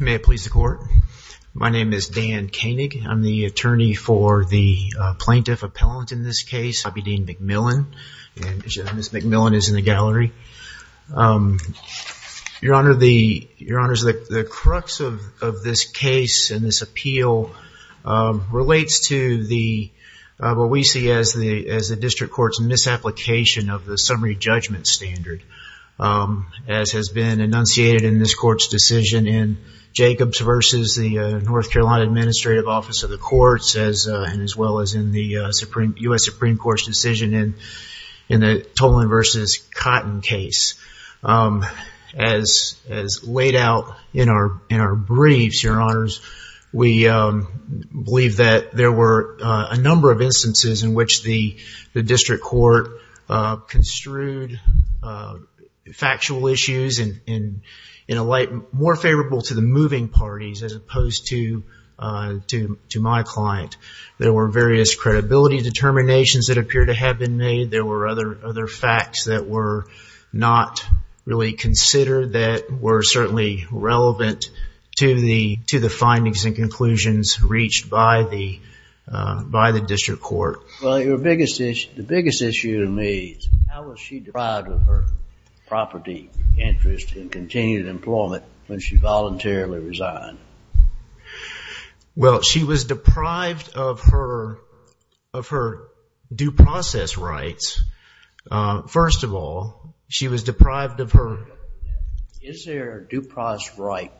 May it please the court. My name is Dan Koenig. I'm the attorney for the plaintiff appellant in this case, Bobbydyne McMillan. Ms. McMillan is in the gallery. Your Honor, the crux of this case and this appeal relates to what we see as the District Court's misapplication of the Supreme Court's decision in Jacobs v. the North Carolina Administrative Office of the Courts, as well as in the U.S. Supreme Court's decision in the Toland v. Cotton case. As laid out in our briefs, Your Honors, we believe that there were a number of instances in which the District Court construed factual issues in a light more favorable to the moving parties as opposed to my client. There were various credibility determinations that appear to have been made. There were other facts that were not really considered that were certainly relevant to the findings and conclusions reached by the District Court. Well, the biggest issue to me is how was she deprived of her property, interest, and continued employment when she voluntarily resigned? Well, she was deprived of her due process rights. First of all, she was deprived of her... Is there a due process right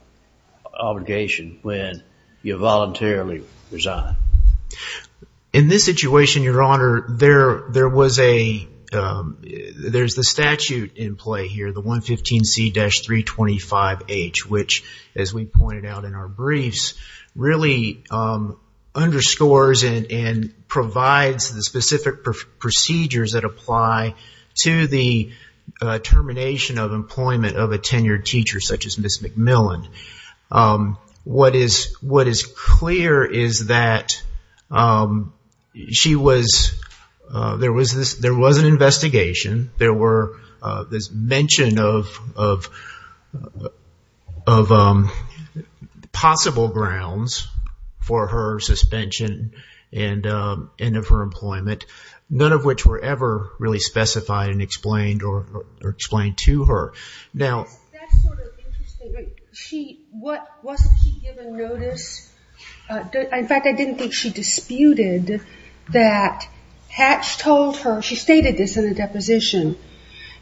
obligation when you voluntarily resign? In this situation, Your Honor, there's the statute in play here, the 115C-325H, which, as we pointed out in our briefs, really underscores and provides the specific procedures that lead to the termination of employment of a tenured teacher such as Ms. McMillan. What is clear is that there was an investigation. There was mention of possible grounds for her suspension and of her employment, none of which were ever really specified or explained to her. That's sort of interesting. Wasn't she given notice? In fact, I didn't think she disputed that Hatch told her... She stated this in the deposition.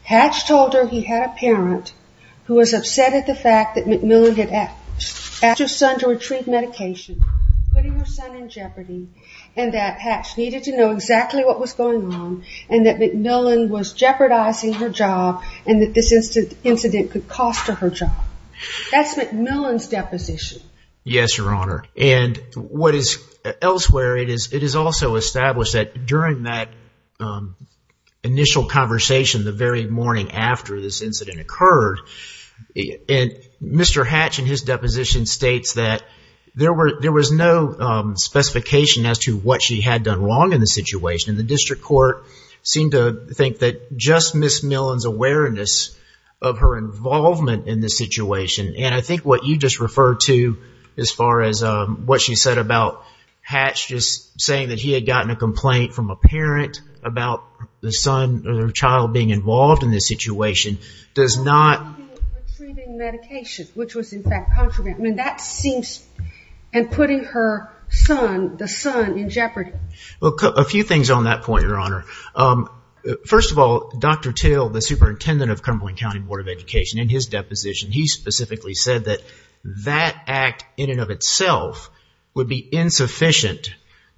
Hatch told her he had a parent who was upset at the fact that McMillan had asked her son to retrieve medication, putting her son in jeopardy, and that Hatch needed to know exactly what was going on and that McMillan was jeopardizing her job and that this incident could cost her job. That's McMillan's deposition. Yes, Your Honor. And what is elsewhere, it is also established that during that initial conversation the very morning after this incident occurred, Mr. Hatch in his deposition states that there was no specification as to what she had done wrong in the situation. The district court seemed to think that just Ms. McMillan's awareness of her involvement in the situation, and I think what you just referred to as far as what she said about Hatch just saying that he had gotten a complaint from a parent about the son or the child being involved in this situation does not... Retrieving medication, which was in fact contraband. I mean, that seems... And putting her son, the son, in jeopardy. Well, a few things on that point, Your Honor. First of all, Dr. Till, the superintendent of Cumberland County Board of Education, in his deposition, he specifically said that act in and of itself would be insufficient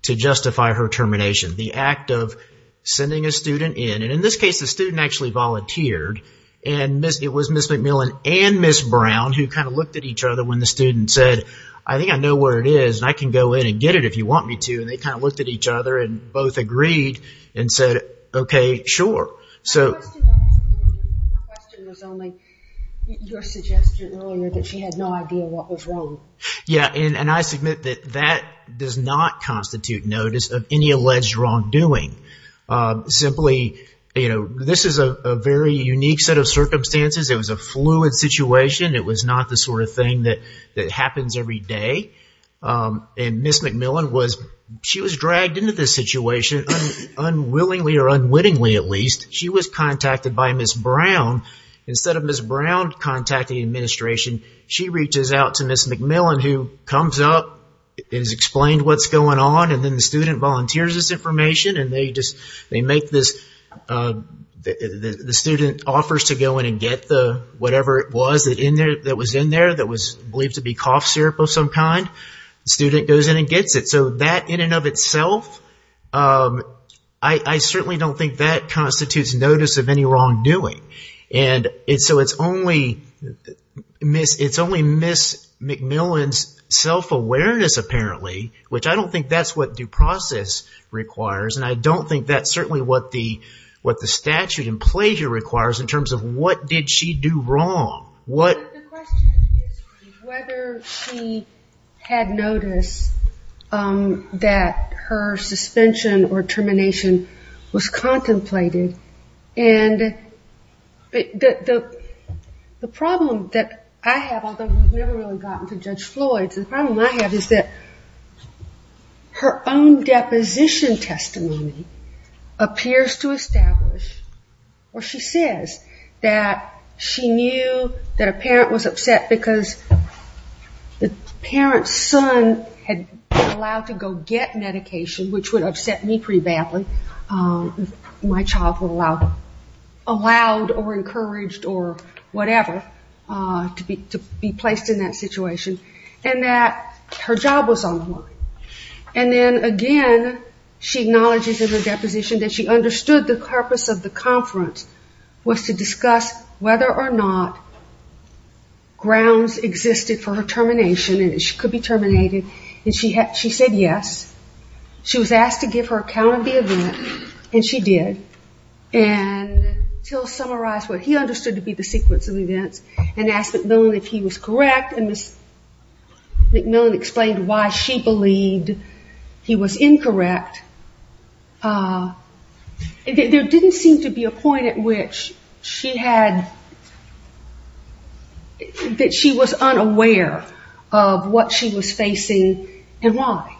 to justify her termination. The act of sending a student in, and in this case the student actually volunteered, and it was Ms. McMillan and Ms. Brown who kind of looked at each other when the student said, I think I know where it is and I can go in and get it if you want me to. And they kind of looked at each other and both agreed and said, okay, sure. My question was only your suggestion earlier that she had no idea what was wrong. Yeah, and I submit that that does not constitute notice of any alleged wrongdoing. Simply, this is a very unique set of circumstances. It was a fluid situation. It was not the sort of thing that happens every day. And Ms. McMillan was, she was dragged into this situation unwillingly at least. She was contacted by Ms. Brown. Instead of Ms. Brown contacting the administration, she reaches out to Ms. McMillan who comes up and has explained what's going on. And then the student volunteers this information and they make this, the student offers to go in and get the whatever it was that was in there that was believed to be cough syrup of some kind. The student goes in and gets it. So that in and of itself, I certainly don't think that constitutes notice of any wrongdoing. And so it's only Ms. McMillan's self-awareness apparently, which I don't think that's what due process requires. And I don't think that's certainly what the statute in pleasure requires in terms of what did she do wrong. The question is whether she had notice that her suspension or termination was caused by contemplating. And the problem that I have, although we've never really gotten to Judge Floyd's, the problem I have is that her own deposition testimony appears to establish or she says that she knew that a parent was upset because the parent's son had been allowed to go get medication, which would upset me pretty badly. My child was allowed or encouraged or whatever to be placed in that situation. And that her job was on the line. And then again, she acknowledges in her deposition that she understood the purpose of the conference was to discuss whether or not grounds existed for her termination and she could be terminated and she said yes. She was asked to give her account of the event and she did. And Till summarized what he understood to be the sequence of events and asked McMillan if he was correct and Ms. McMillan explained why she believed he was incorrect. There didn't seem to be a point at which she had, that she was unaware of what she was facing and why.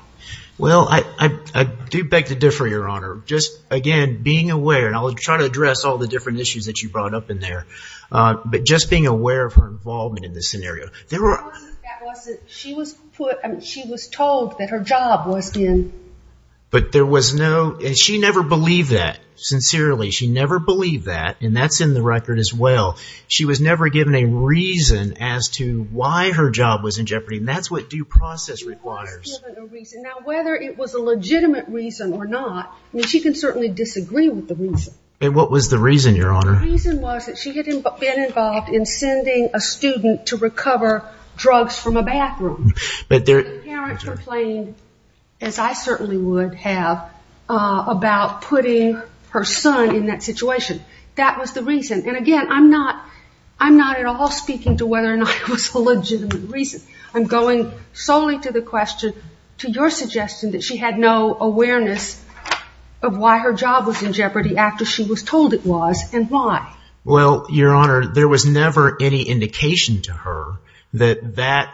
Well, I do beg to differ, Your Honor. Just again, being aware, and I'll try to address all the different issues that you brought up in there, but just being aware of her involvement in this scenario. She was told that her job was in. But there was no, and she never believed that, sincerely. She never believed that and that's in the record as well. She was never given a reason as to why her job was in jeopardy and that's what due process requires. She was given a reason. Now, whether it was a legitimate reason or not, I mean, she can certainly disagree with the reason. And what was the reason, Your Honor? The reason was that she had been involved in sending a student to recover drugs from a bathroom. But there, And the parent complained, as I certainly would have, about putting her son in that I'm not at all speaking to whether or not it was a legitimate reason. I'm going solely to the question, to your suggestion, that she had no awareness of why her job was in jeopardy after she was told it was and why. Well, Your Honor, there was never any indication to her that that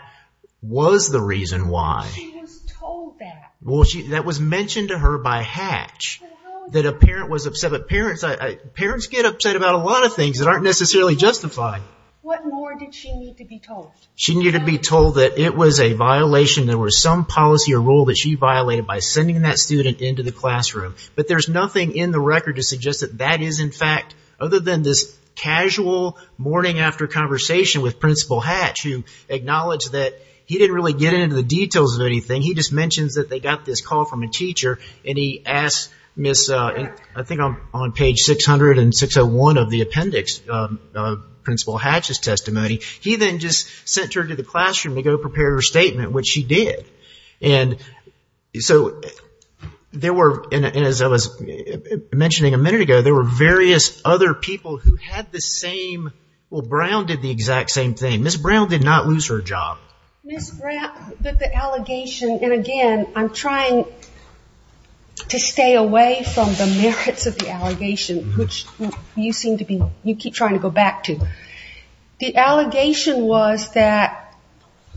was the reason why. She was told that. Well, that was mentioned to her by Hatch, that a parent was upset. But parents get upset about a lot of things that aren't necessarily justified. What more did she need to be told? She needed to be told that it was a violation, there was some policy or rule that she violated by sending that student into the classroom. But there's nothing in the record to suggest that that is, in fact, other than this casual morning after conversation with Principal Hatch who acknowledged that he didn't really get into the details of anything. He just mentions that they got this call from a teacher and he asked Miss, I think on page 600 and 601 of the appendix of Principal Hatch's testimony. He then just sent her to the classroom to go prepare her statement, which she did. And so, there were, and as I was mentioning a minute ago, there were various other people who had the same, well, Brown did the exact same thing. Miss Brown did not lose her job. Miss Brown, but the allegation, and again, I'm trying to stay away from the merits of the allegation, which you seem to be, you keep trying to go back to. The allegation was that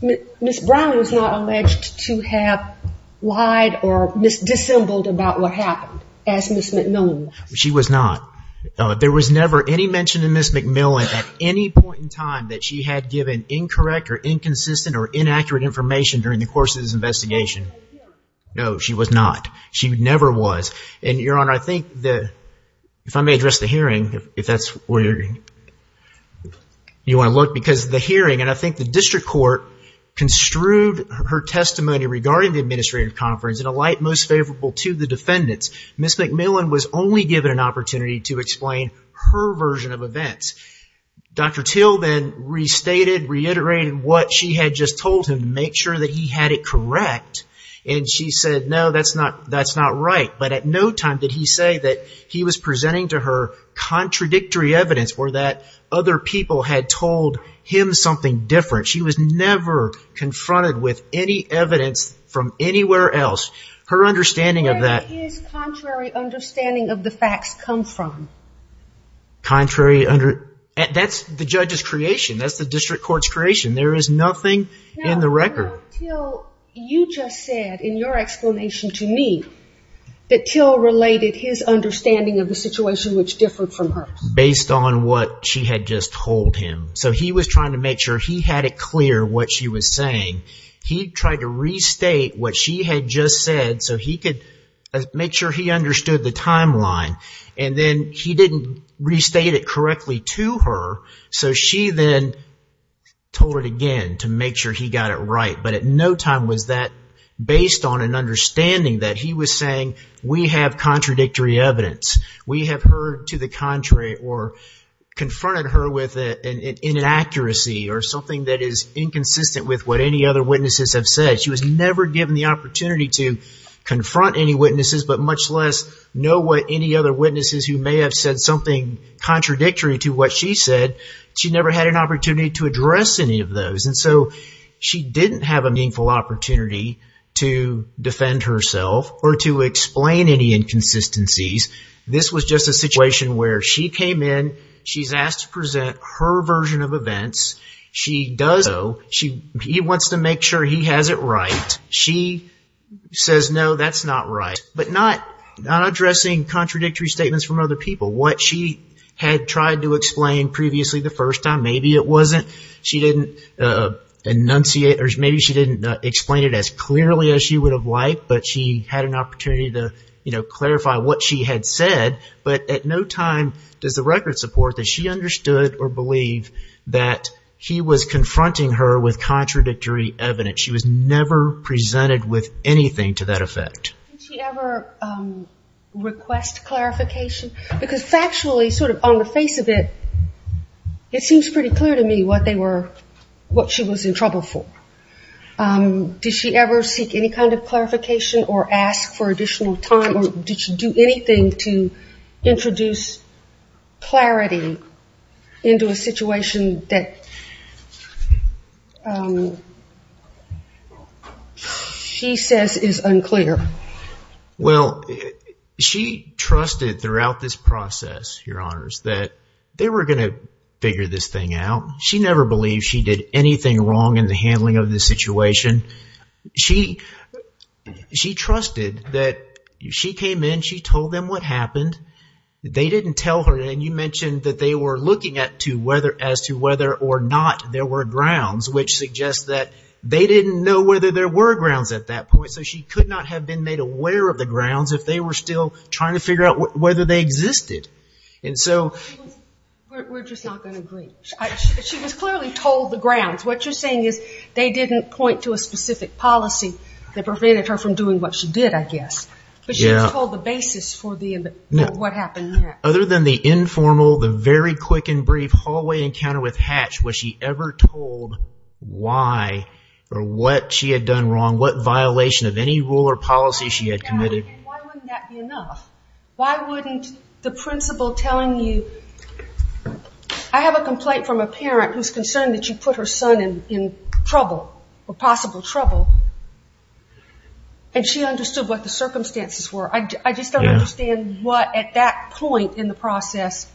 Miss Brown was not alleged to have lied or dissembled about what happened as Miss McMillan was. She was not. There was never any mention of Miss McMillan at any point in time that she had given incorrect or inconsistent or inaccurate information during the course of this investigation. No, she was not. She never was. And Your Honor, I think that, if I may address the hearing, if that's where you want to look, because the hearing, and I think the district court construed her testimony regarding the administrative conference in a light most favorable to the defendants. Miss McMillan was only given an opportunity to explain her version of events. Dr. Till then restated, reiterated what she had just told him to make sure that he had it correct. And she said, no, that's not right. But at no time did he say that he was presenting to her contradictory evidence or that other people had told him something different. She was never confronted with any evidence from anywhere else. Her understanding of that... Where did his contrary understanding of the facts come from? Contrary under... That's the judge's creation. That's the district court's creation. There is nothing in the record. Your Honor, Till, you just said in your explanation to me that Till related his understanding of the situation which differed from hers. Based on what she had just told him. So he was trying to make sure he had it clear what she was saying. He tried to restate what she had just said so he could make sure he understood the timeline. And then he didn't restate it correctly to her, so she then told it again to make sure he got it right. But at no time was that based on an understanding that he was saying, we have contradictory evidence. We have heard to the contrary or confronted her with an inaccuracy or something that is inconsistent with what any other witnesses have said. She was never given the opportunity to confront any witnesses, but much less know what any other witnesses who may have said something contradictory to what she said, she never had an opportunity to address any of those. And so she didn't have a meaningful opportunity to defend herself or to explain any inconsistencies. This was just a situation where she came in, she's asked to present her version of events. She does so. He wants to make sure he has it right. She says, no, that's not right. But not addressing contradictory statements from other people. What she had tried to explain previously the first time, maybe it wasn't, she didn't enunciate or maybe she didn't explain it as clearly as she would have liked, but she had an opportunity to clarify what she had said. But at no time does the record support that she understood or believed that he was confronting her with contradictory evidence. She was never presented with anything to that effect. Did she ever request clarification? Because factually, sort of on the face of it, it seems pretty clear to me what she was in trouble for. Did she ever seek any kind of clarification or ask for additional time or did she do anything to introduce clarity into a situation that she says is unclear? Well, she trusted throughout this process, your honors, that they were going to figure this thing out. She never believed she did anything wrong in the handling of this situation. She trusted that she came in, she told them what happened. They didn't tell her and you mentioned that they were looking as to whether or not there were grounds which suggests that they didn't know whether there were grounds at that point, so she could not have been made aware of the grounds if they were still trying to figure out whether they existed. We're just not going to agree. She was clearly told the grounds. What you're saying is they didn't point to a specific policy that prevented her from doing what she did, I guess. But she was told the basis for what happened there. Other than the informal, the very quick and brief hallway encounter with Hatch, was she ever told why or what she had done wrong, what violation of any rule or policy she had committed? Why wouldn't that be enough? Why wouldn't the principal telling you, I have a complaint from a parent who's concerned that you put her son in trouble, or possible trouble, and she understood what the circumstances were. I just don't understand what at that point in the process...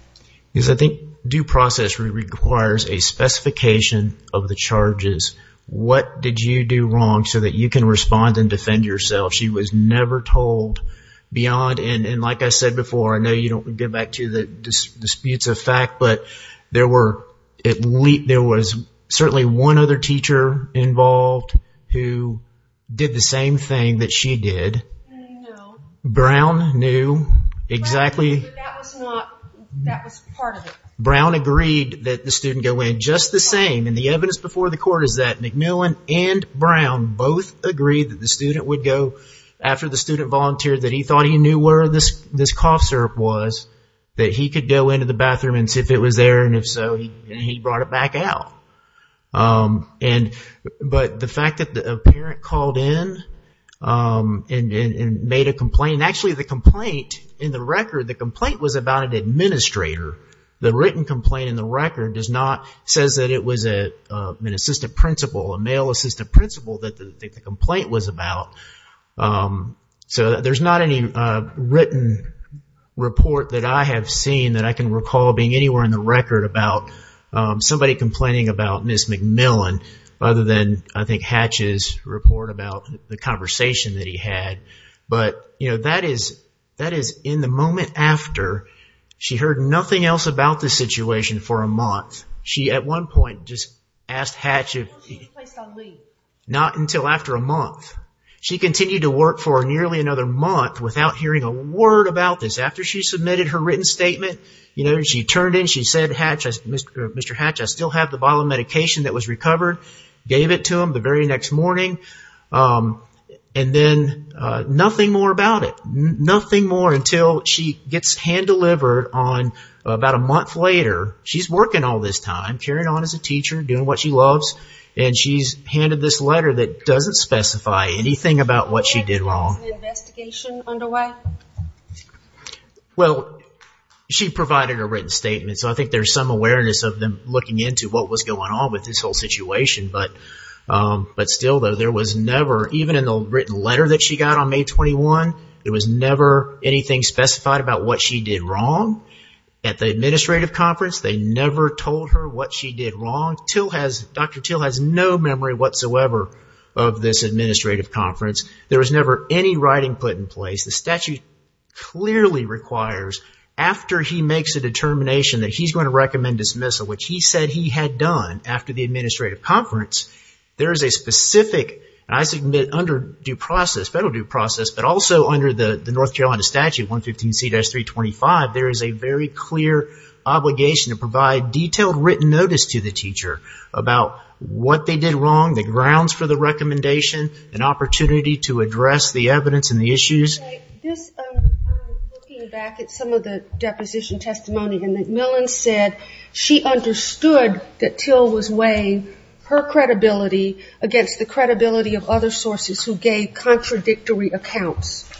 I think due process requires a specification of the charges. What did you do wrong so that you can respond and defend yourself? She was never told beyond, and like I said before, I know you don't get back to the disputes of fact, but there was certainly one other teacher involved who did the same thing that she did. I know. Brown knew exactly... But that was not... That was part of it. Brown agreed that the student go in just the same, and the evidence before the court is that MacMillan and Brown both agreed that the student would go after the student volunteered that he thought he knew where this cough syrup was, that he could go into the bathroom and see if it was there, and if so, he brought it back out. But the fact that a parent called in and made a complaint... Actually, the complaint in the record, the complaint was about an administrator. The written complaint in the record does not... says that it was an assistant principal, a male assistant principal that the complaint was about. There's not any written report that I have seen that I can recall being anywhere in the record about somebody complaining about Ms. MacMillan, other than I think Hatch's report about the conversation that he had. But that is in the moment after she heard nothing else about this situation for a month. She, at one point, just asked Hatch if... Not until after a month. She continued to work for nearly another month without hearing a word about this. After she submitted her written statement, she turned in, she said, Mr. Hatch, I still have the bottle of medication that was recovered. Gave it to him the very next morning, and then nothing more about it. Nothing more until she gets hand-delivered on about a month later. She's working all this time, carrying on as a teacher, doing what she loves, and she's handed this letter that doesn't specify anything about what she did wrong. Is an investigation underway? Well, she provided a written statement, so I think there's some awareness of them looking into what was going on with this whole situation. But still, though, there was never, even in the written letter that she got on May 21, there was never anything specified about what she did wrong. At the administrative conference, they never told her what she did wrong. Dr. Till has no memory whatsoever of this administrative conference. There was never any writing put in place. The statute clearly requires, after he makes a determination that he's going to recommend dismissal, which he said he had done after the administrative conference, there is a specific, and I submit under federal due process, but also under the North Carolina statute 115C-325, there is a very clear obligation to provide detailed written notice to the teacher about what they did wrong, the grounds for the recommendation, an opportunity to use. Looking back at some of the deposition testimony, McMillan said she understood that Till was weighing her credibility against the credibility of other sources who gave contradictory accounts.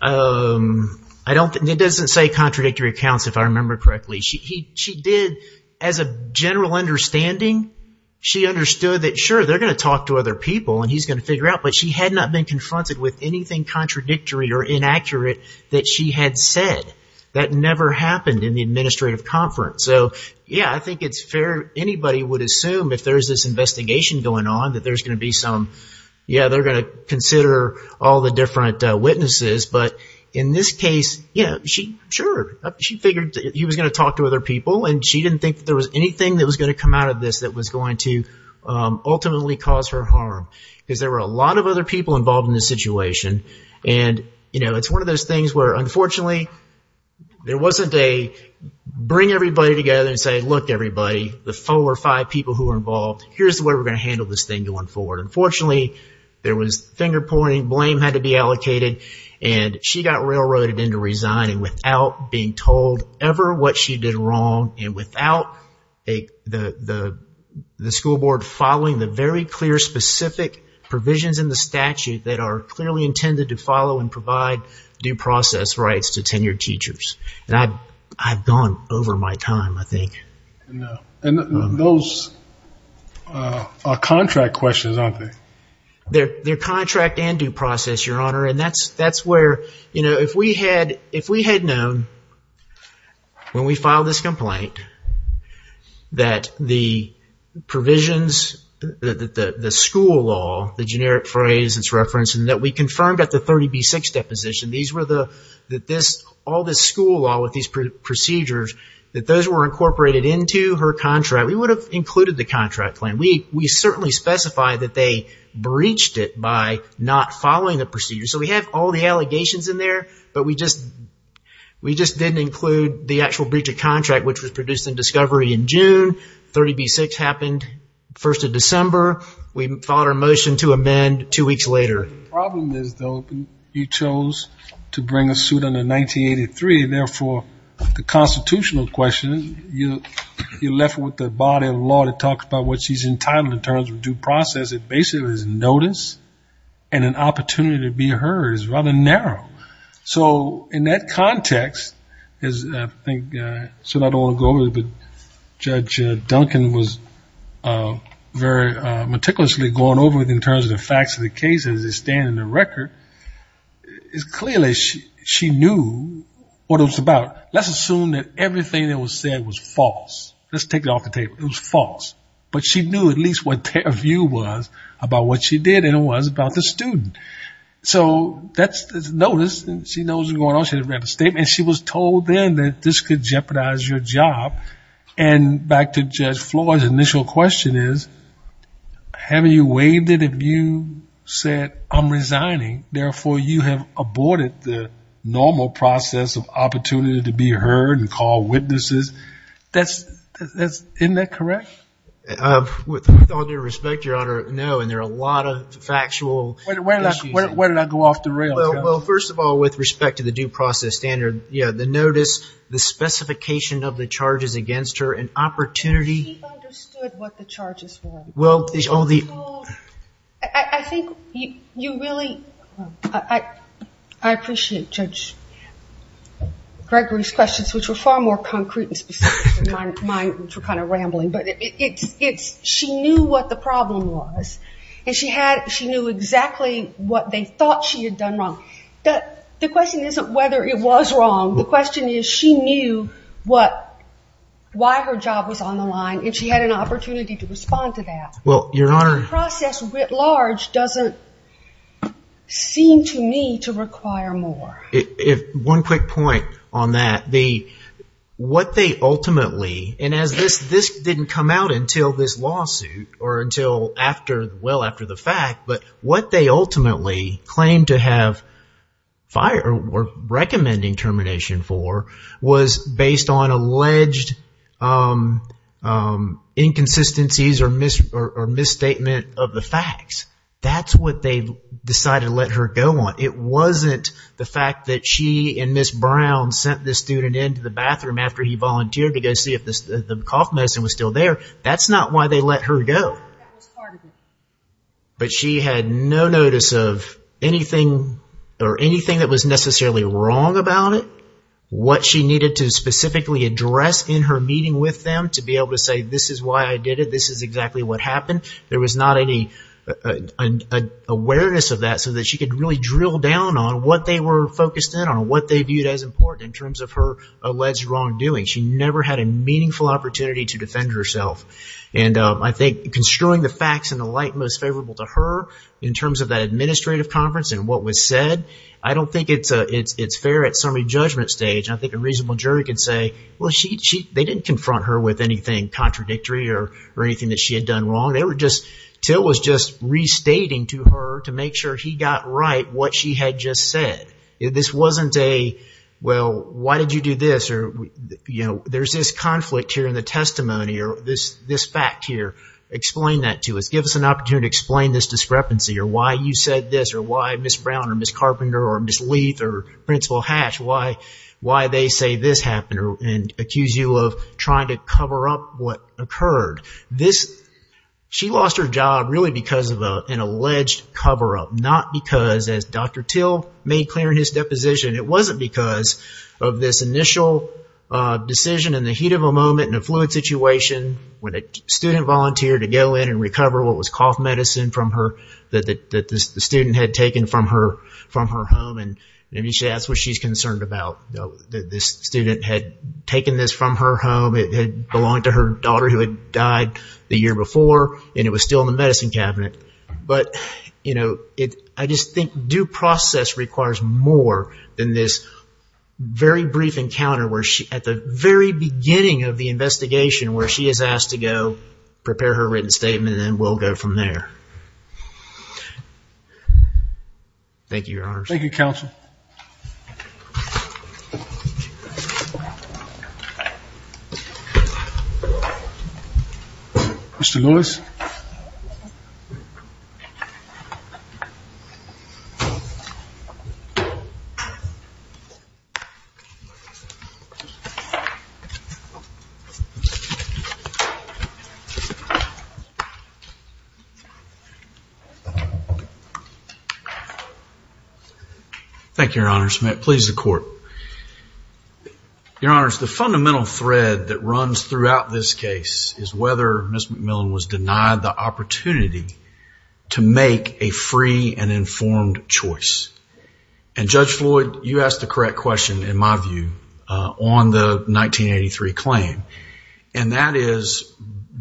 It doesn't say contradictory accounts, if I remember correctly. She did, as a general understanding, she understood that sure, they're going to talk to other people and he's going to figure out, but she had not been confronted with anything contradictory or inaccurate that she had said. That never happened in the administrative conference. Yeah, I think it's fair, anybody would assume if there's this investigation going on that there's going to be some, yeah, they're going to consider all the different witnesses, but in this case, sure, she figured he was going to talk to other people and she didn't think there was anything that was going to come out of this that was going to ultimately cause her harm. Because there were a lot of other people involved in this situation and it's one of those things where unfortunately, there wasn't a bring everybody together and say, look everybody, the four or five people who were involved, here's the way we're going to handle this thing going forward. Unfortunately, there was finger pointing, blame had to be allocated and she got railroaded into resigning without being told ever what she did wrong and without the school board following the very clear, specific provisions in the statute that are clearly intended to follow and provide due process rights to tenured teachers. And I've gone over my time, I think. And those are contract questions, aren't they? They're contract and due process, your honor, and that's where if we had known when we filed this complaint that the provisions, the school law, the generic phrase that's referenced and that we confirmed at the 30B6 deposition, all this school law with these procedures, that those were incorporated into her contract, we would have included the contract claim. We certainly specified that they breached it by not following the procedure. So we have all the allegations in there, but we just didn't include the actual breach of contract which was produced in discovery in June. 30B6 happened 1st of December. We filed our motion to amend two weeks later. Problem is, though, you chose to bring a suit under 1983, therefore, the constitutional question, you're left with the body of law that talks about what she's entitled in terms of due process. It basically is notice and an opportunity to be heard. It's rather narrow. So in that context, I don't want to go over it, but Judge Duncan was very meticulously going over it in terms of the facts of the case as they stand in the record. It's clear that she knew what it was about. Let's assume that everything that was said was false. Let's assume that she knew at least what their view was about what she did, and it was about the student. So that's the notice. She knows what's going on. She had read the statement. She was told then that this could jeopardize your job. And back to Judge Floyd's initial question is, having you waived it, if you said, I'm resigning, therefore, you have aborted the normal process of opportunity to be heard and call witnesses, isn't that correct? With all due respect, Your Honor, no, and there are a lot of factual issues. Where did I go off the rails? Well, first of all, with respect to the due process standard, yeah, the notice, the specification of the charges against her, and opportunity. She understood what the charges were. Well, all the... I think you really... I appreciate Judge Gregory's questions, which were far more concrete and kind of rambling, but she knew what the problem was, and she knew exactly what they thought she had done wrong. The question isn't whether it was wrong. The question is, she knew what, why her job was on the line, and she had an opportunity to respond to that. Well, Your Honor... The process writ large doesn't seem to me to require more. One quick point on that. What they ultimately, and this didn't come out until this lawsuit, or until well after the fact, but what they ultimately claimed to have, or were recommending termination for, was based on alleged inconsistencies or misstatement of the facts. That's what they decided to let her go on. It wasn't the fact that she and Ms. Brown sent this student into the bathroom after he volunteered to go see if the cough medicine was still there. That's not why they let her go. No, that was part of it. But she had no notice of anything, or anything that was necessarily wrong about it, what she needed to specifically address in her meeting with them to be able to say, this is why I did it, this is exactly what happened. There was not any awareness of that so that she could really drill down on what they were focused in, on what they viewed as important in terms of her alleged wrongdoing. She never had a meaningful opportunity to defend herself. And I think construing the facts in the light most favorable to her, in terms of that administrative conference and what was said, I don't think it's fair at summary judgment stage. I think a reasonable jury could say, they didn't confront her with anything contradictory or anything that she had done wrong. Till was just restating to her to make sure he got right what she had just said. This wasn't a, well, why did you do this? There's this conflict here in the testimony, or this fact here. Explain that to us. Give us an opportunity to explain this discrepancy, or why you said this, or why Ms. Brown or Ms. Carpenter or Ms. Leath or Principal Hash, why they say this happened and accuse you of trying to cover up what occurred. She lost her job really because of an alleged cover-up, not because, as Dr. Till made clear in his deposition, it wasn't because of this initial decision in the heat of a moment in a fluid situation when a student volunteered to go in and recover what was cough medicine that the student had taken from her home. Maybe that's what she's concerned about. This student had taken this from her home. It had belonged to her daughter who had died the year before, and it was still in the medicine cabinet. But I just think due process requires more than this very brief encounter where she, at the very beginning of the investigation, where she is asked to go prepare her written statement, and then we'll go from there. Thank you, Your Honors. Thank you, Counsel. Thank you, Your Honors. May it please the Court. Your Honors, the fundamental thread that runs throughout this case is whether Ms. McMillan was denied the opportunity to make a free and informed choice. And Judge Floyd, you asked the correct question, in my view, on the 1983 claim, and that is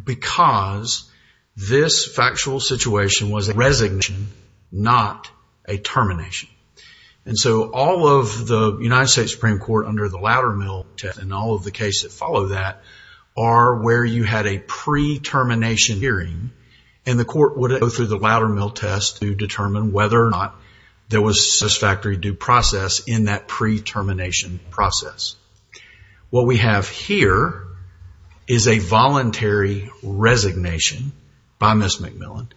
because this factual situation was a resignation, not a termination. And so all of the United States Supreme Court under the Loudermill test, and all of the cases that follow that, are where you had a pre-termination hearing, and the court would go through the Loudermill test to determine whether or not there was satisfactory due process in that pre-termination process. What we have here is a voluntary resignation by Ms. McMillan,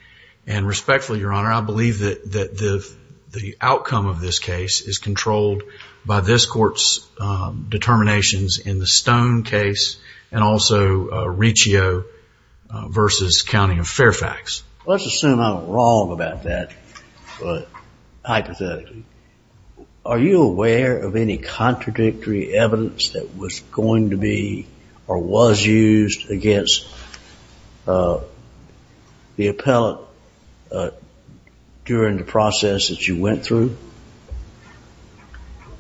and respectfully, Your Honor, I believe that the outcome of this case is controlled by this Court's determinations in the Stone case and also Riccio versus County of Fairfax. Let's assume I'm wrong about that, but hypothetically, are you aware of any contradictory evidence that was going to be or was used against the appellate during the process that you went through?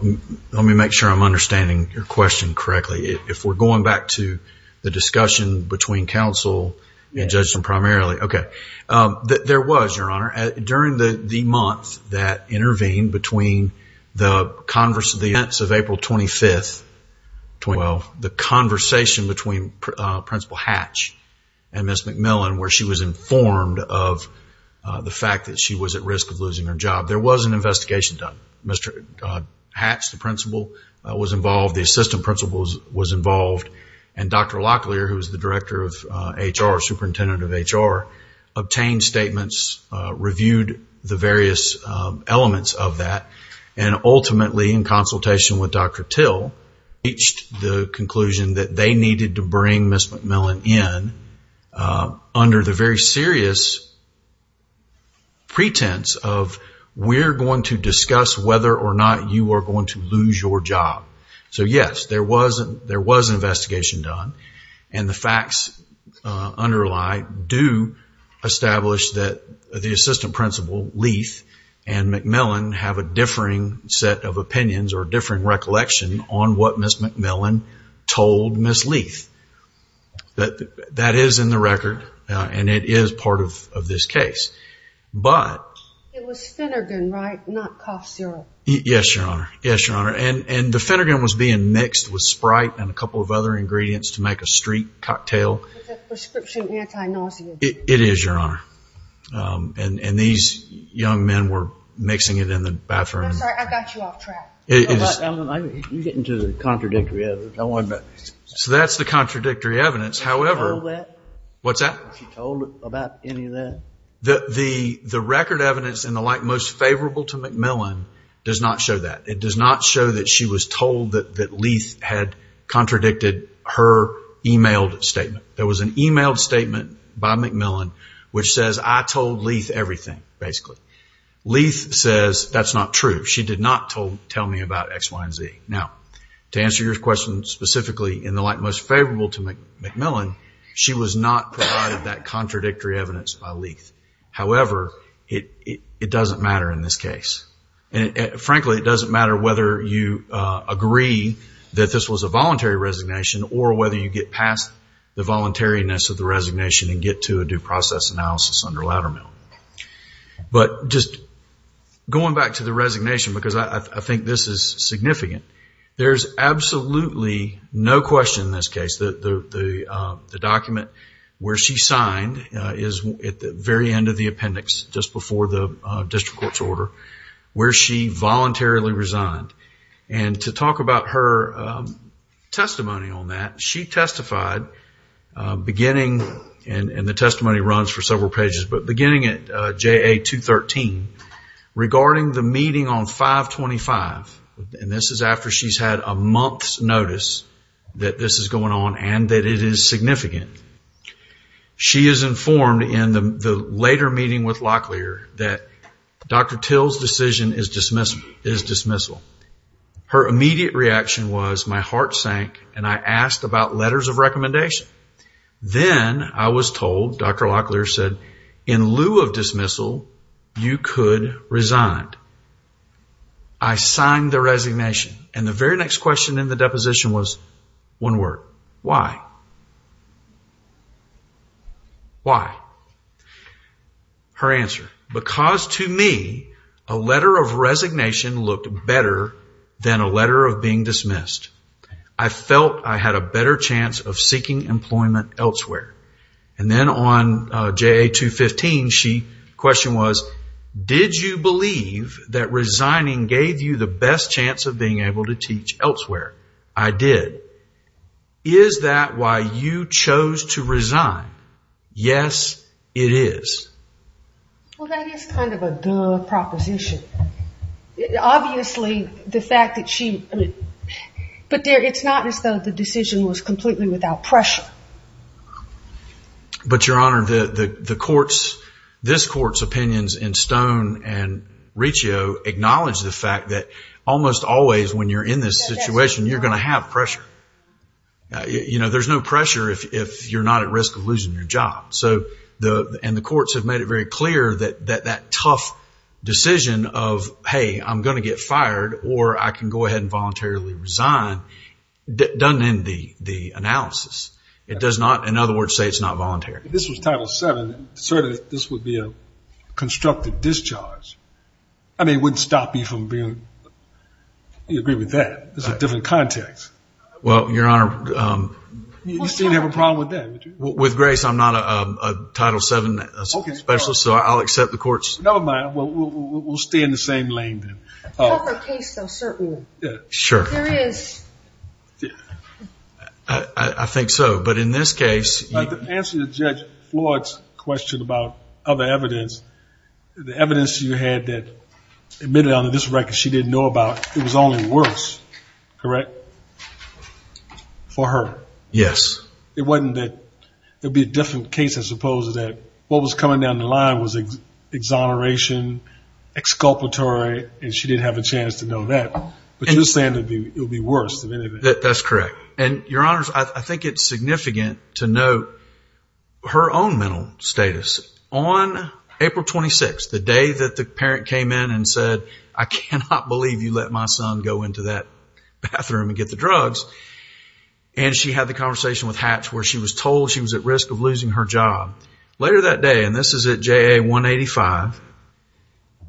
Let me make sure I'm understanding your question correctly. If we're going back to the discussion between counsel and judgment primarily. There was, Your Honor, during the month that intervened between the events of April 25th, the conversation between Principal Hatch and Ms. McMillan, where she was informed of the fact that she was at risk of losing her job. There was an investigation done. Mr. Hatch, the principal, was involved. The assistant principal was involved. And Dr. Locklear, who is the director of HR, superintendent of HR, obtained statements, reviewed the various elements of that, and ultimately, in consultation with Dr. Till, reached the conclusion that they needed to bring Ms. McMillan in under the very serious pretense of, we're going to discuss whether or not you are going to lose your job. So, yes, there was an investigation done. And the facts underlie, do establish that the assistant principal, Leith, and McMillan have a differing set of opinions or differing recollection on what Ms. McMillan told Ms. Leith. That is in the record, and it is part of this case. It was Finnergan, right? Not cough syrup. Yes, Your Honor. Yes, Your Honor. And the Finnergan was being mixed with Sprite and a couple of other ingredients to make a street cocktail. Is that prescription anti-nausea? It is, Your Honor. And these young men were mixing it in the bathroom. I'm sorry. I got you off track. You're getting to the contradictory evidence. So that's the contradictory evidence. Did she know that? What's that? Was she told about any of that? The record evidence in the light most favorable to McMillan does not show that. It does not show that she was told that Leith had contradicted her emailed statement. There was an emailed statement by McMillan which says, I told Leith everything, basically. Leith says that's not true. She did not tell me about X, Y, and Z. Now, to answer your question specifically in the light most favorable to McMillan, she was not provided that contradictory evidence by Leith. However, it doesn't matter in this case. Frankly, it doesn't matter whether you agree that this was a voluntary resignation or whether you get past the voluntariness of the resignation and get to a due process analysis under Laddermill. But just going back to the resignation, because I think this is significant, there's absolutely no question in this case that the document where she signed is at the very end of the appendix just before the district court's order where she voluntarily resigned. To talk about her testimony on that, she testified beginning, and the testimony runs for several pages, but beginning at JA-213 regarding the meeting on 5-25. This is after she's had a month's notice that this is going on and that it is significant. She is informed in the later meeting with Locklear that Dr. Till's decision is dismissal. Her immediate reaction was, my heart sank and I asked about letters of recommendation. Then I was told, Dr. Locklear said, in lieu of dismissal, you could resign. I signed the resignation, and the very next question in the deposition was one word, why? Why? Her answer, because to me, a letter of resignation looked better than a letter of being dismissed. I felt I had a better chance of seeking employment elsewhere. And then on JA-215, the question was, did you believe that resigning gave you the best chance of being able to teach elsewhere? I did. Is that why you chose to resign? Yes, it is. Well, that is kind of a duh proposition. Obviously, the fact that she, but it's not as though the decision was completely without pressure. But, Your Honor, this court's opinions in Stone and Riccio acknowledge the fact that almost always when you're in this situation, you're going to have pressure. There's no pressure if you're not at risk of losing your job. And the courts have made it very clear that that tough decision of, hey, I'm going to get fired or I can go ahead and voluntarily resign, doesn't end the analysis. It does not, in other words, say it's not voluntary. If this was Title VII, certainly this would be a constructive discharge. I mean, it wouldn't stop you from being, you agree with that. It's a different context. Well, Your Honor. You seem to have a problem with that. With Grace, I'm not a Title VII specialist, so I'll accept the court's. Never mind. We'll stay in the same lane then. You have a case, though, certainly. Sure. There is. I think so. But in this case. To answer Judge Floyd's question about other evidence, the evidence you had that admitted on this record she didn't know about, it was only worse, correct, for her? Yes. It wasn't that there would be a different case, as opposed to that what was coming down the line was exoneration, exculpatory, and she didn't have a chance to know that. But you're saying it would be worse than any of that. That's correct. And, Your Honors, I think it's significant to note her own mental status. On April 26th, the day that the parent came in and said, I cannot believe you let my son go into that bathroom and get the drugs, and she had the conversation with Hatch where she was told she was at risk of losing her job. Later that day, and this is at JA 185,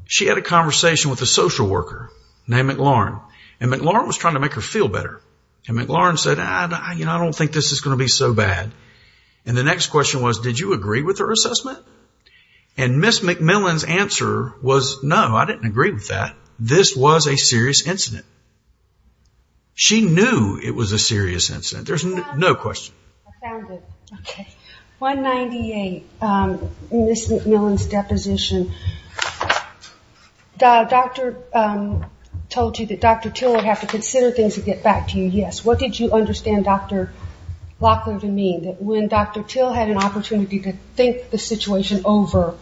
she had a conversation with a social worker named McLaurin. And McLaurin was trying to make her feel better. And McLaurin said, I don't think this is going to be so bad. And the next question was, did you agree with her assessment? And Ms. McMillan's answer was, no, I didn't agree with that. This was a serious incident. She knew it was a serious incident. There's no question. I found it. Okay. 198, Ms. McMillan's deposition. The doctor told you that Dr. Till would have to consider things and get back to you. Yes. What did you understand Dr. Locklear to mean, that when Dr. Till had an opportunity to think the situation over,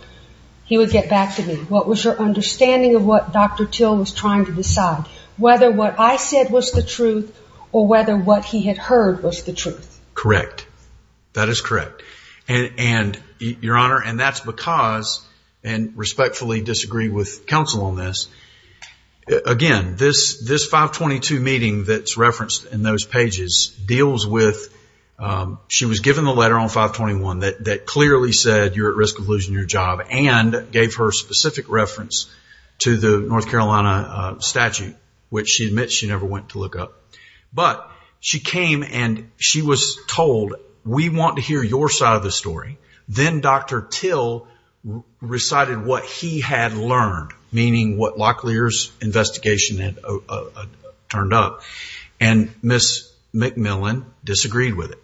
he would get back to me? What was your understanding of what Dr. Till was trying to decide, whether what I said was the truth or whether what he had heard was the truth? Correct. That is correct. And, Your Honor, and that's because, and respectfully disagree with counsel on this, again, this 522 meeting that's referenced in those pages deals with she was given the letter on 521 that clearly said you're at risk of losing your job and gave her specific reference to the North Carolina statute, which she admits she never went to look up. But she came and she was told, we want to hear your side of the story. Then Dr. Till recited what he had learned, meaning what Locklear's investigation had turned up. And Ms. McMillan disagreed with it,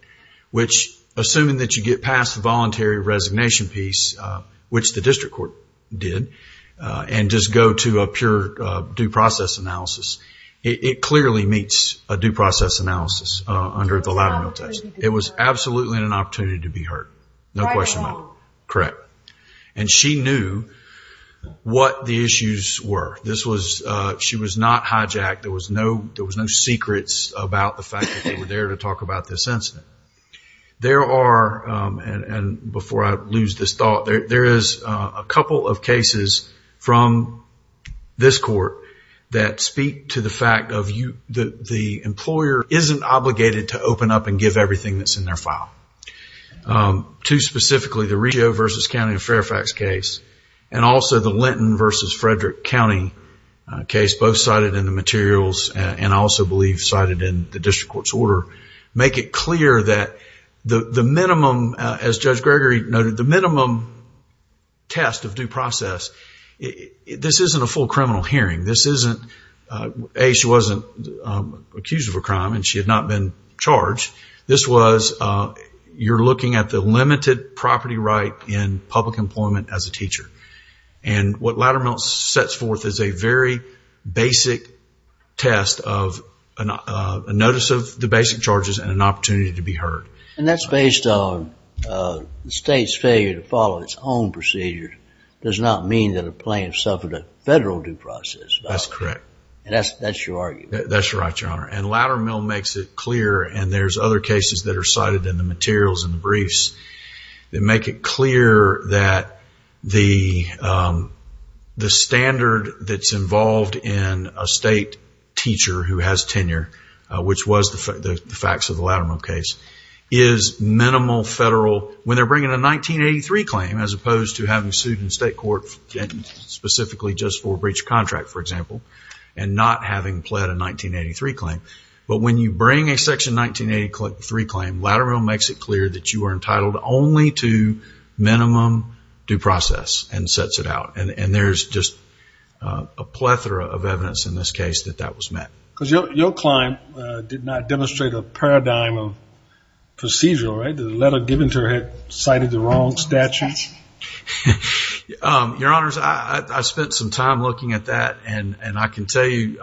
which assuming that you get past the voluntary resignation piece, which the district court did, and just go to a pure due process analysis, it clearly meets a due process analysis under the Latimer test. It was absolutely an opportunity to be heard. No question about it. Correct. And she knew what the issues were. She was not hijacked. There was no secrets about the fact that they were there to talk about this incident. There are, and before I lose this thought, there is a couple of cases from this court that speak to the fact that the employer isn't obligated to open up and give everything that's in their file. Two specifically, the Reggio v. County of Fairfax case, and also the Linton v. Frederick County case, both cited in the materials and I also believe cited in the district court's order, make it clear that the minimum, as Judge Gregory noted, the minimum test of due process, this isn't a full criminal hearing. This isn't, A, she wasn't accused of a crime and she had not been charged. This was you're looking at the limited property right in public employment as a teacher. And what Latimer sets forth is a very basic test of a notice of the basic charges and an opportunity to be heard. And that's based on the state's failure to follow its own procedure does not mean that a plaintiff suffered a federal due process. That's correct. And that's your argument. That's right, Your Honor. And Latimer makes it clear, and there's other cases that are cited in the materials and the briefs, that make it clear that the standard that's involved in a state teacher who has tenure, which was the facts of the Latimer case, is minimal federal, when they're bringing a 1983 claim as opposed to having sued in state court and specifically just for breach of contract, for example, and not having pled a 1983 claim. But when you bring a section 1983 claim, Latimer makes it clear that you are entitled only to minimum due process and sets it out. And there's just a plethora of evidence in this case that that was met. Because your client did not demonstrate a paradigm of procedure, right? The letter given to her cited the wrong statute. Your Honors, I spent some time looking at that, and I can tell you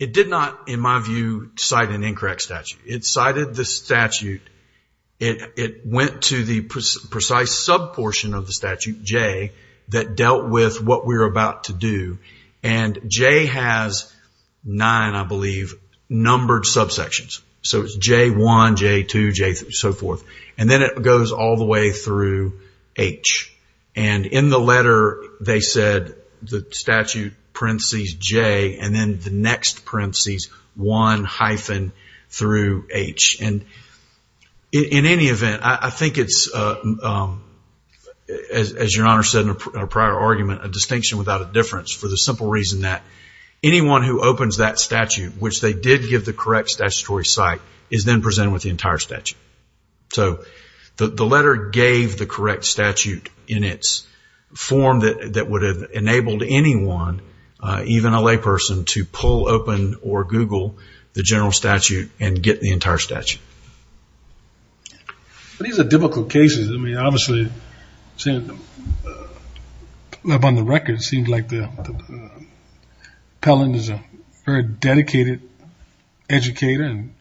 it did not, in my view, cite an incorrect statute. It cited the statute. It went to the precise sub-portion of the statute, J, that dealt with what we were about to do. And J has nine, I believe, numbered sub-sections. So it's J1, J2, J3, so forth. And then it goes all the way through H. And in the letter they said the statute parentheses J, and then the next parentheses 1 hyphen through H. And in any event, I think it's, as your Honor said in a prior argument, a distinction without a difference for the simple reason that anyone who opens that statute, which they did give the correct statutory cite, is then presented with the entire statute. So the letter gave the correct statute in its form that would have enabled anyone, even a layperson, to pull open or Google the general statute and get the entire statute. These are difficult cases. I mean, obviously, on the record, it seems like Pellon is a very dedicated educator and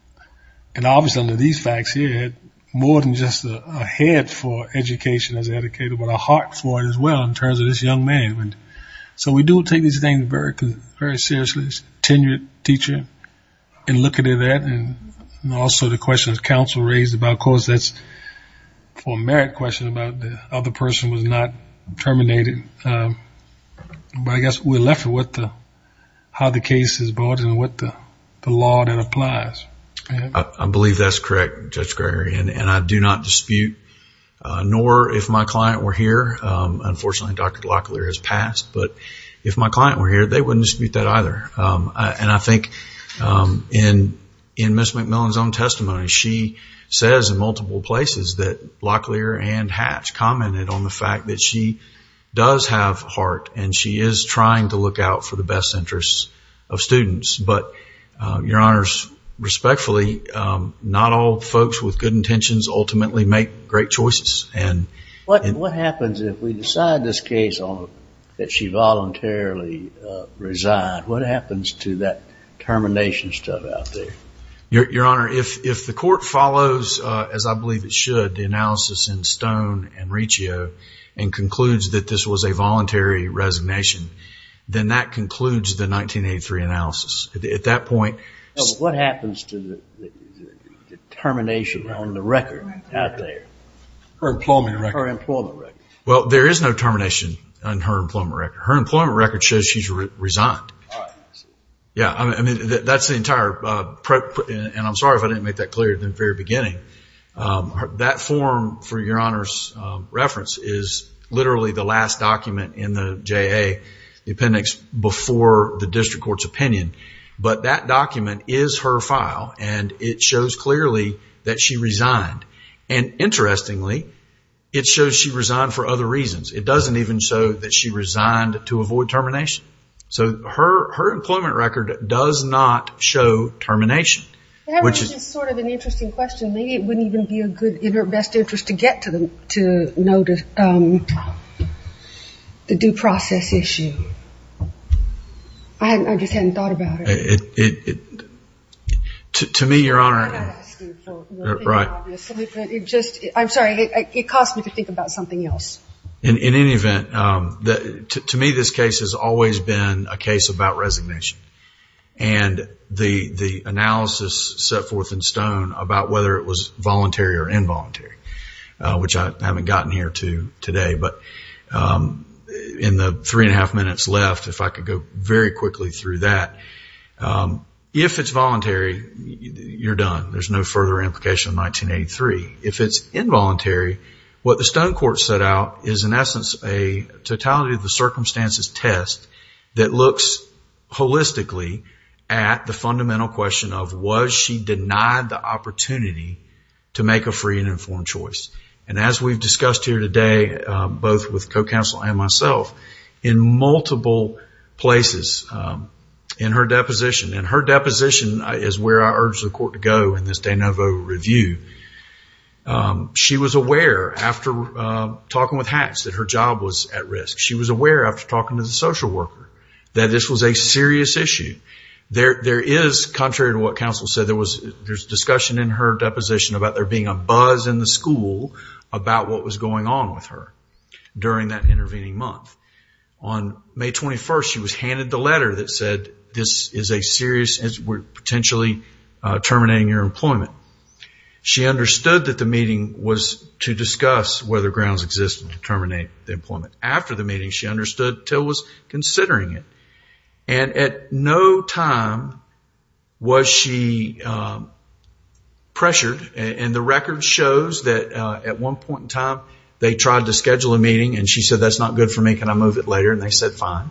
obviously under these facts he had more than just a head for education as an educator, but a heart for it as well in terms of this young man. So we do take these things very seriously. He's a tenured teacher in looking at that And also the questions counsel raised about, of course, that's for a merit question about the other person was not terminated. But I guess we're left with how the case is brought and what the law that applies. I believe that's correct, Judge Gregory, and I do not dispute, nor if my client were here. Unfortunately, Dr. Locklear has passed. But if my client were here, they wouldn't dispute that either. And I think in Ms. McMillan's own testimony, she says in multiple places that Locklear and Hatch commented on the fact that she does have heart and she is trying to look out for the best interests of students. But, Your Honors, respectfully, not all folks with good intentions ultimately make great choices. What happens if we decide this case that she voluntarily resigned? What happens to that termination stuff out there? Your Honor, if the court follows, as I believe it should, the analysis in Stone and Riccio and concludes that this was a voluntary resignation, then that concludes the 1983 analysis. At that point... What happens to the termination on the record out there? Her employment record? Her employment record. Well, there is no termination on her employment record. Her employment record shows she's resigned. Yeah, I mean, that's the entire... And I'm sorry if I didn't make that clear at the very beginning. That form, for Your Honor's reference, is literally the last document in the JA, the appendix before the district court's opinion. But that document is her file, and it shows clearly that she resigned. And interestingly, it shows she resigned for other reasons. It doesn't even show that she resigned to avoid termination. So her employment record does not show termination. That was just sort of an interesting question. Maybe it wouldn't even be in her best interest to get to know the due process issue. I just hadn't thought about it. To me, Your Honor... Right. I'm sorry, it caused me to think about something else. In any event, to me this case has always been a case about resignation. And the analysis set forth in stone about whether it was voluntary or involuntary, which I haven't gotten here to today. But in the three and a half minutes left, if I could go very quickly through that, if it's voluntary, you're done. There's no further implication in 1983. If it's involuntary, what the stone court set out is, in essence, a totality of the circumstances test that looks holistically at the fundamental question of, was she denied the opportunity to make a free and informed choice? And as we've discussed here today, both with co-counsel and myself, in multiple places in her deposition, and her deposition is where I urge the court to go in this de novo review. She was aware, after talking with Hatch, that her job was at risk. She was aware, after talking to the social worker, that this was a serious issue. There is, contrary to what counsel said, there was discussion in her deposition about there being a buzz in the school about what was going on with her during that intervening month. On May 21st, she was handed the letter that said, this is a serious issue and we're potentially terminating your employment. She understood that the meeting was to discuss whether grounds existed to terminate the employment. After the meeting, she understood until she was considering it. And at no time was she pressured. And the record shows that at one point in time, they tried to schedule a meeting and she said, that's not good for me, can I move it later? And they said, fine.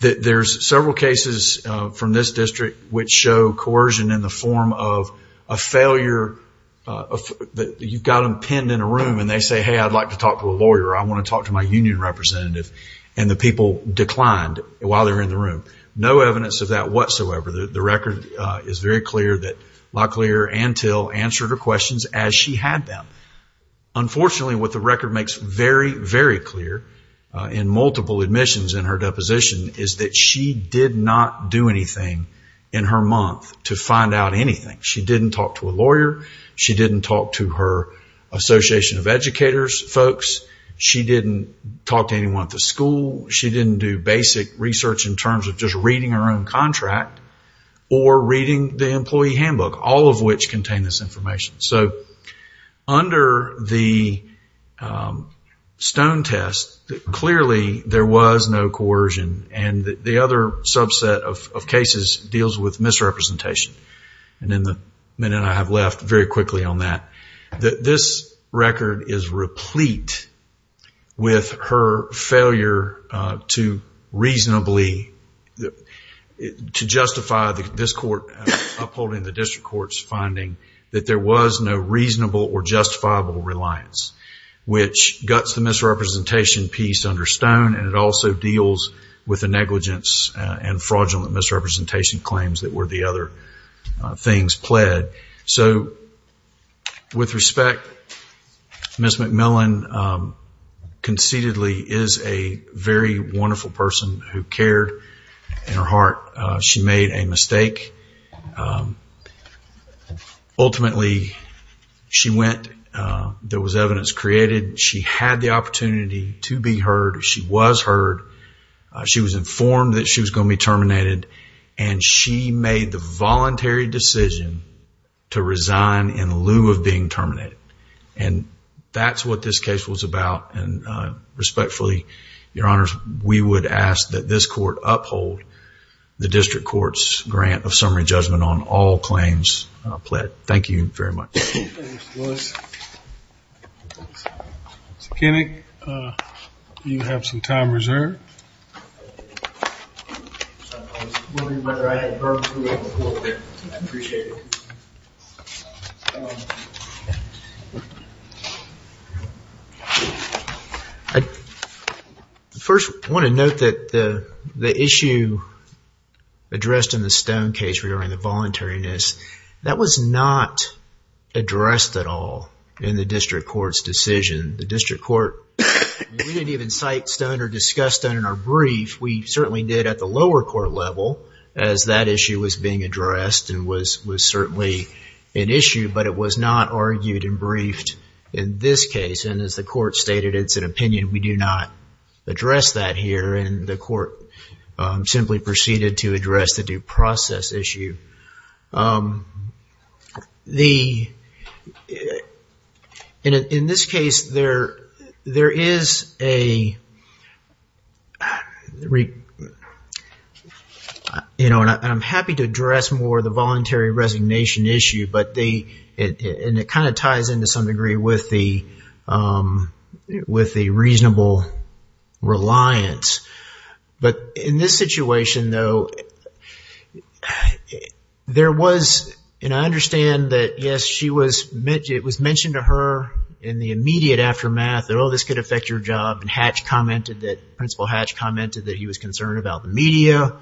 There's several cases from this district which show coercion in the form of a failure. You've got them pinned in a room and they say, hey, I'd like to talk to a lawyer. I want to talk to my union representative. And the people declined while they were in the room. No evidence of that whatsoever. The record is very clear that Locklear and Till answered her questions as she had them. Unfortunately, what the record makes very, very clear in multiple admissions in her deposition is that she did not do anything in her month to find out anything. She didn't talk to a lawyer. She didn't talk to her Association of Educators folks. She didn't talk to anyone at the school. She didn't do basic research in terms of just reading her own contract or reading the employee handbook, all of which contain this information. So under the stone test, clearly there was no coercion. And the other subset of cases deals with misrepresentation. And in the minute I have left, very quickly on that, this record is replete with her failure to reasonably justify this court upholding the district court's finding that there was no reasonable or justifiable reliance, which guts the misrepresentation piece under stone, and it also deals with the negligence and fraudulent misrepresentation claims that were the other things pled. So with respect, Ms. McMillan conceitedly is a very wonderful person who cared in her heart. She made a mistake. Ultimately, she went. There was evidence created. She had the opportunity to be heard. She was heard. She was informed that she was going to be terminated, and she made the voluntary decision to resign in lieu of being terminated. And that's what this case was about, and respectfully, Your Honors, we would ask that this court uphold the district court's grant of summary judgment on all claims pled. Thank you very much. Thank you, Mr. Lewis. Mr. Kinnick, you have some time reserved. I was wondering whether I had time to go over there. I appreciate it. First, I want to note that the issue addressed in the Stone case regarding the voluntariness, that was not addressed at all in the district court's decision. The district court didn't even cite Stone or discuss Stone in our brief. We certainly did at the lower court level as that issue was being addressed and was certainly an issue, but it was not argued and briefed in this case. And as the court stated, it's an opinion. We do not address that here, and the court simply proceeded to address the due process issue. In this case, there is a, you know, and I'm happy to address more the voluntary resignation issue, and it kind of ties into some degree with the reasonable reliance. But in this situation, though, there was, and I understand that, yes, it was mentioned to her in the immediate aftermath that, oh, this could affect your job, and Hatch commented that, Principal Hatch commented that he was concerned about the media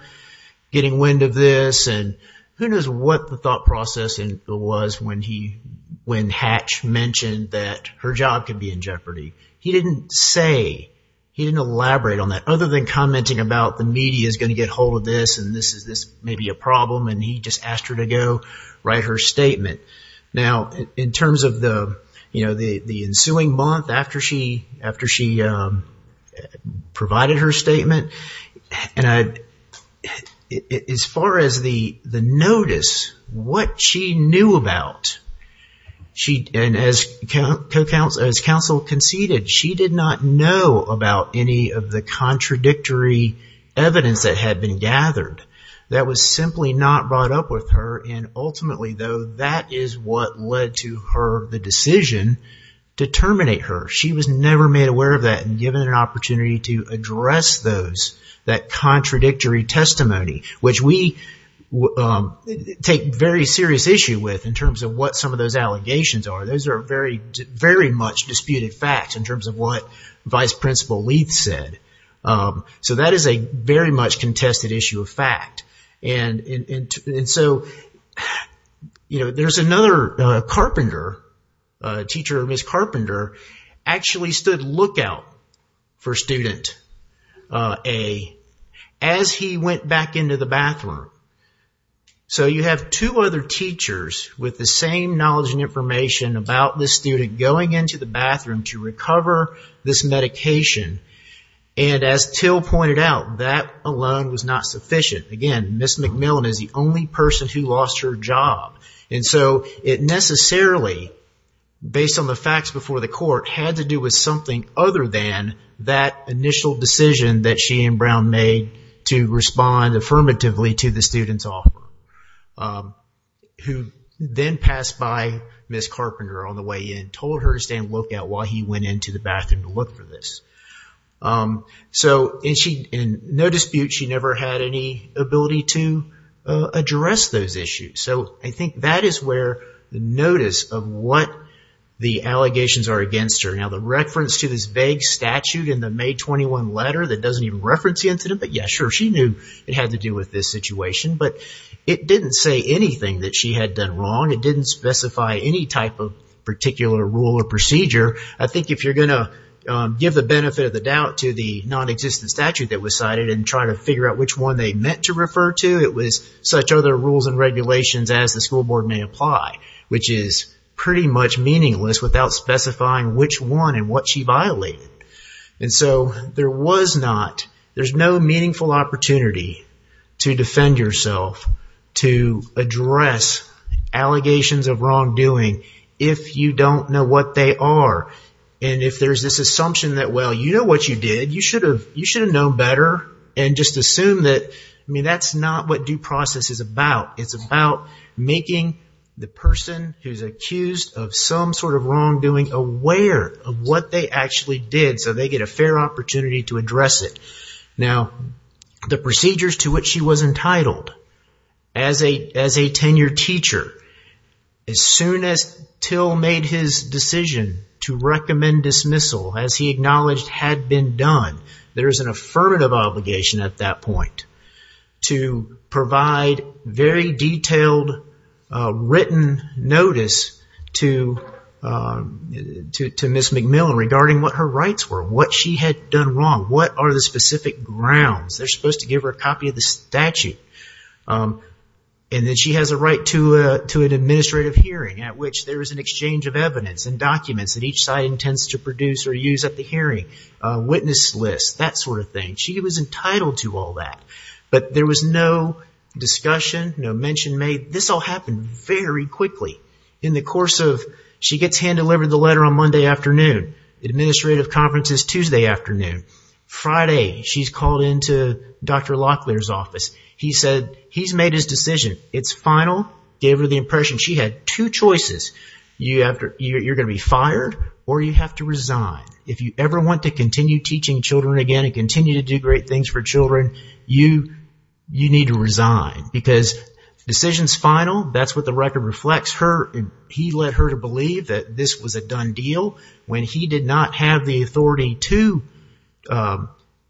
getting wind of this, and who knows what the thought process was when Hatch mentioned that her job could be in jeopardy. He didn't say, he didn't elaborate on that other than commenting about the media is going to get a hold of this, and this may be a problem, and he just asked her to go write her statement. Now, in terms of the, you know, the ensuing month after she provided her statement, and as far as the notice, what she knew about, and as counsel conceded, she did not know about any of the contradictory evidence that had been gathered. That was simply not brought up with her, and ultimately, though, that is what led to her, the decision to terminate her. She was never made aware of that and given an opportunity to address those, that contradictory testimony, which we take very serious issue with in terms of what some of those allegations are. Those are very, very much disputed facts in terms of what Vice Principal Leath said, so that is a very much contested issue of fact, and so, you know, there's another carpenter, teacher, Ms. Carpenter, actually stood lookout for student A as he went back into the bathroom. So, you have two other teachers with the same knowledge and information about this student going into the bathroom to recover this medication, and as Till pointed out, that alone was not sufficient. Again, Ms. McMillan is the only person who lost her job, and so it necessarily, based on the facts before the court, had to do with something other than that initial decision that she and Brown made to respond affirmatively to the student's offer, who then passed by Ms. Carpenter on the way in, told her to stand lookout while he went into the bathroom to look for this. So, in no dispute, she never had any ability to address those issues. So, I think that is where the notice of what the allegations are against her. Now, the reference to this vague statute in the May 21 letter that doesn't even reference the incident, but yeah, sure, she knew it had to do with this situation, but it didn't say anything that she had done wrong. It didn't specify any type of particular rule or procedure. I think if you're going to give the benefit of the doubt to the nonexistent statute that was cited and try to figure out which one they meant to refer to, it was such other rules and regulations as the school board may apply, which is pretty much meaningless without specifying which one and what she violated. And so, there was not, there's no meaningful opportunity to defend yourself, to address allegations of wrongdoing if you don't know what they are. And if there's this assumption that, well, you know what you did, you should have known better, and just assume that, I mean, that's not what due process is about. It's about making the person who's accused of some sort of wrongdoing aware of what they actually did, so they get a fair opportunity to address it. Now, the procedures to which she was entitled as a tenured teacher, as soon as Till made his decision to recommend dismissal, as he acknowledged had been done, there is an affirmative obligation at that point to provide very detailed written notice to Ms. McMillan regarding what her rights were, what she had done wrong, what are the specific grounds. They're supposed to give her a copy of the statute. And then she has a right to an administrative hearing at which there is an exchange of evidence and documents that each side intends to produce or use at the hearing, a witness list, that sort of thing. She was entitled to all that, but there was no discussion, no mention made. This all happened very quickly. In the course of, she gets hand-delivered the letter on Monday afternoon. Administrative conference is Tuesday afternoon. Friday, she's called into Dr. Locklear's office. He said he's made his decision. It's final. Gave her the impression she had two choices. You're going to be fired or you have to resign. If you ever want to continue teaching children again and continue to do great things for children, you need to resign because the decision's final. That's what the record reflects. He led her to believe that this was a done deal when he did not have the authority to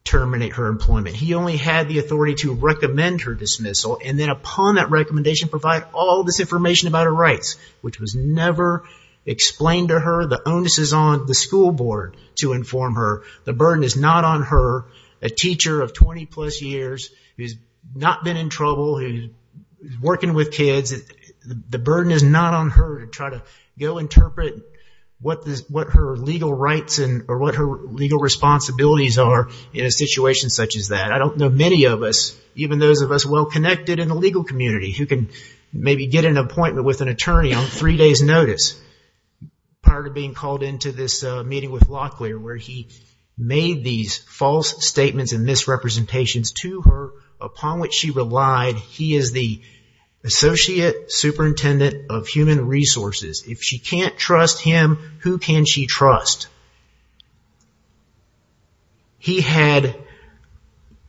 terminate her employment. He only had the authority to recommend her dismissal. And then upon that recommendation, provide all this information about her rights, which was never explained to her. The onus is on the school board to inform her. The burden is not on her, a teacher of 20-plus years, who's not been in trouble, who's working with kids. The burden is not on her to try to go interpret what her legal rights or what her legal responsibilities are in a situation such as that. I don't know many of us, even those of us well-connected in the legal community, who can maybe get an appointment with an attorney on three days' notice prior to being called into this meeting with Locklear, where he made these false statements and misrepresentations to her, upon which she relied. He is the associate superintendent of human resources. If she can't trust him, who can she trust? He had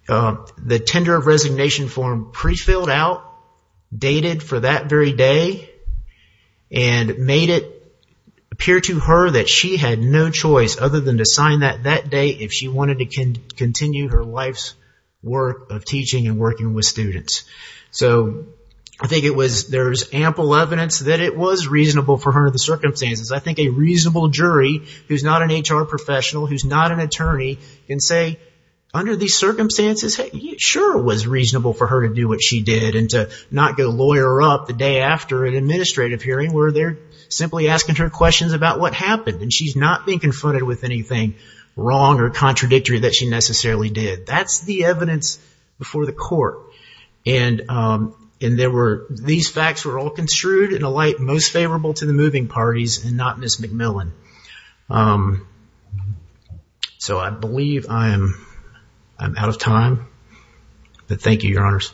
the tender of resignation form prefilled out, dated for that very day, and made it appear to her that she had no choice, other than to sign that that day, if she wanted to continue her life's work of teaching and working with students. There's ample evidence that it was reasonable for her under the circumstances. I think a reasonable jury, who's not an HR professional, who's not an attorney, can say, under these circumstances, sure it was reasonable for her to do what she did, and to not go lawyer up the day after an administrative hearing, where they're simply asking her questions about what happened, and she's not being confronted with anything wrong or contradictory that she necessarily did. That's the evidence before the court. These facts were all construed in a light most favorable to the moving parties and not Ms. McMillan. I believe I'm out of time. Thank you, Your Honors.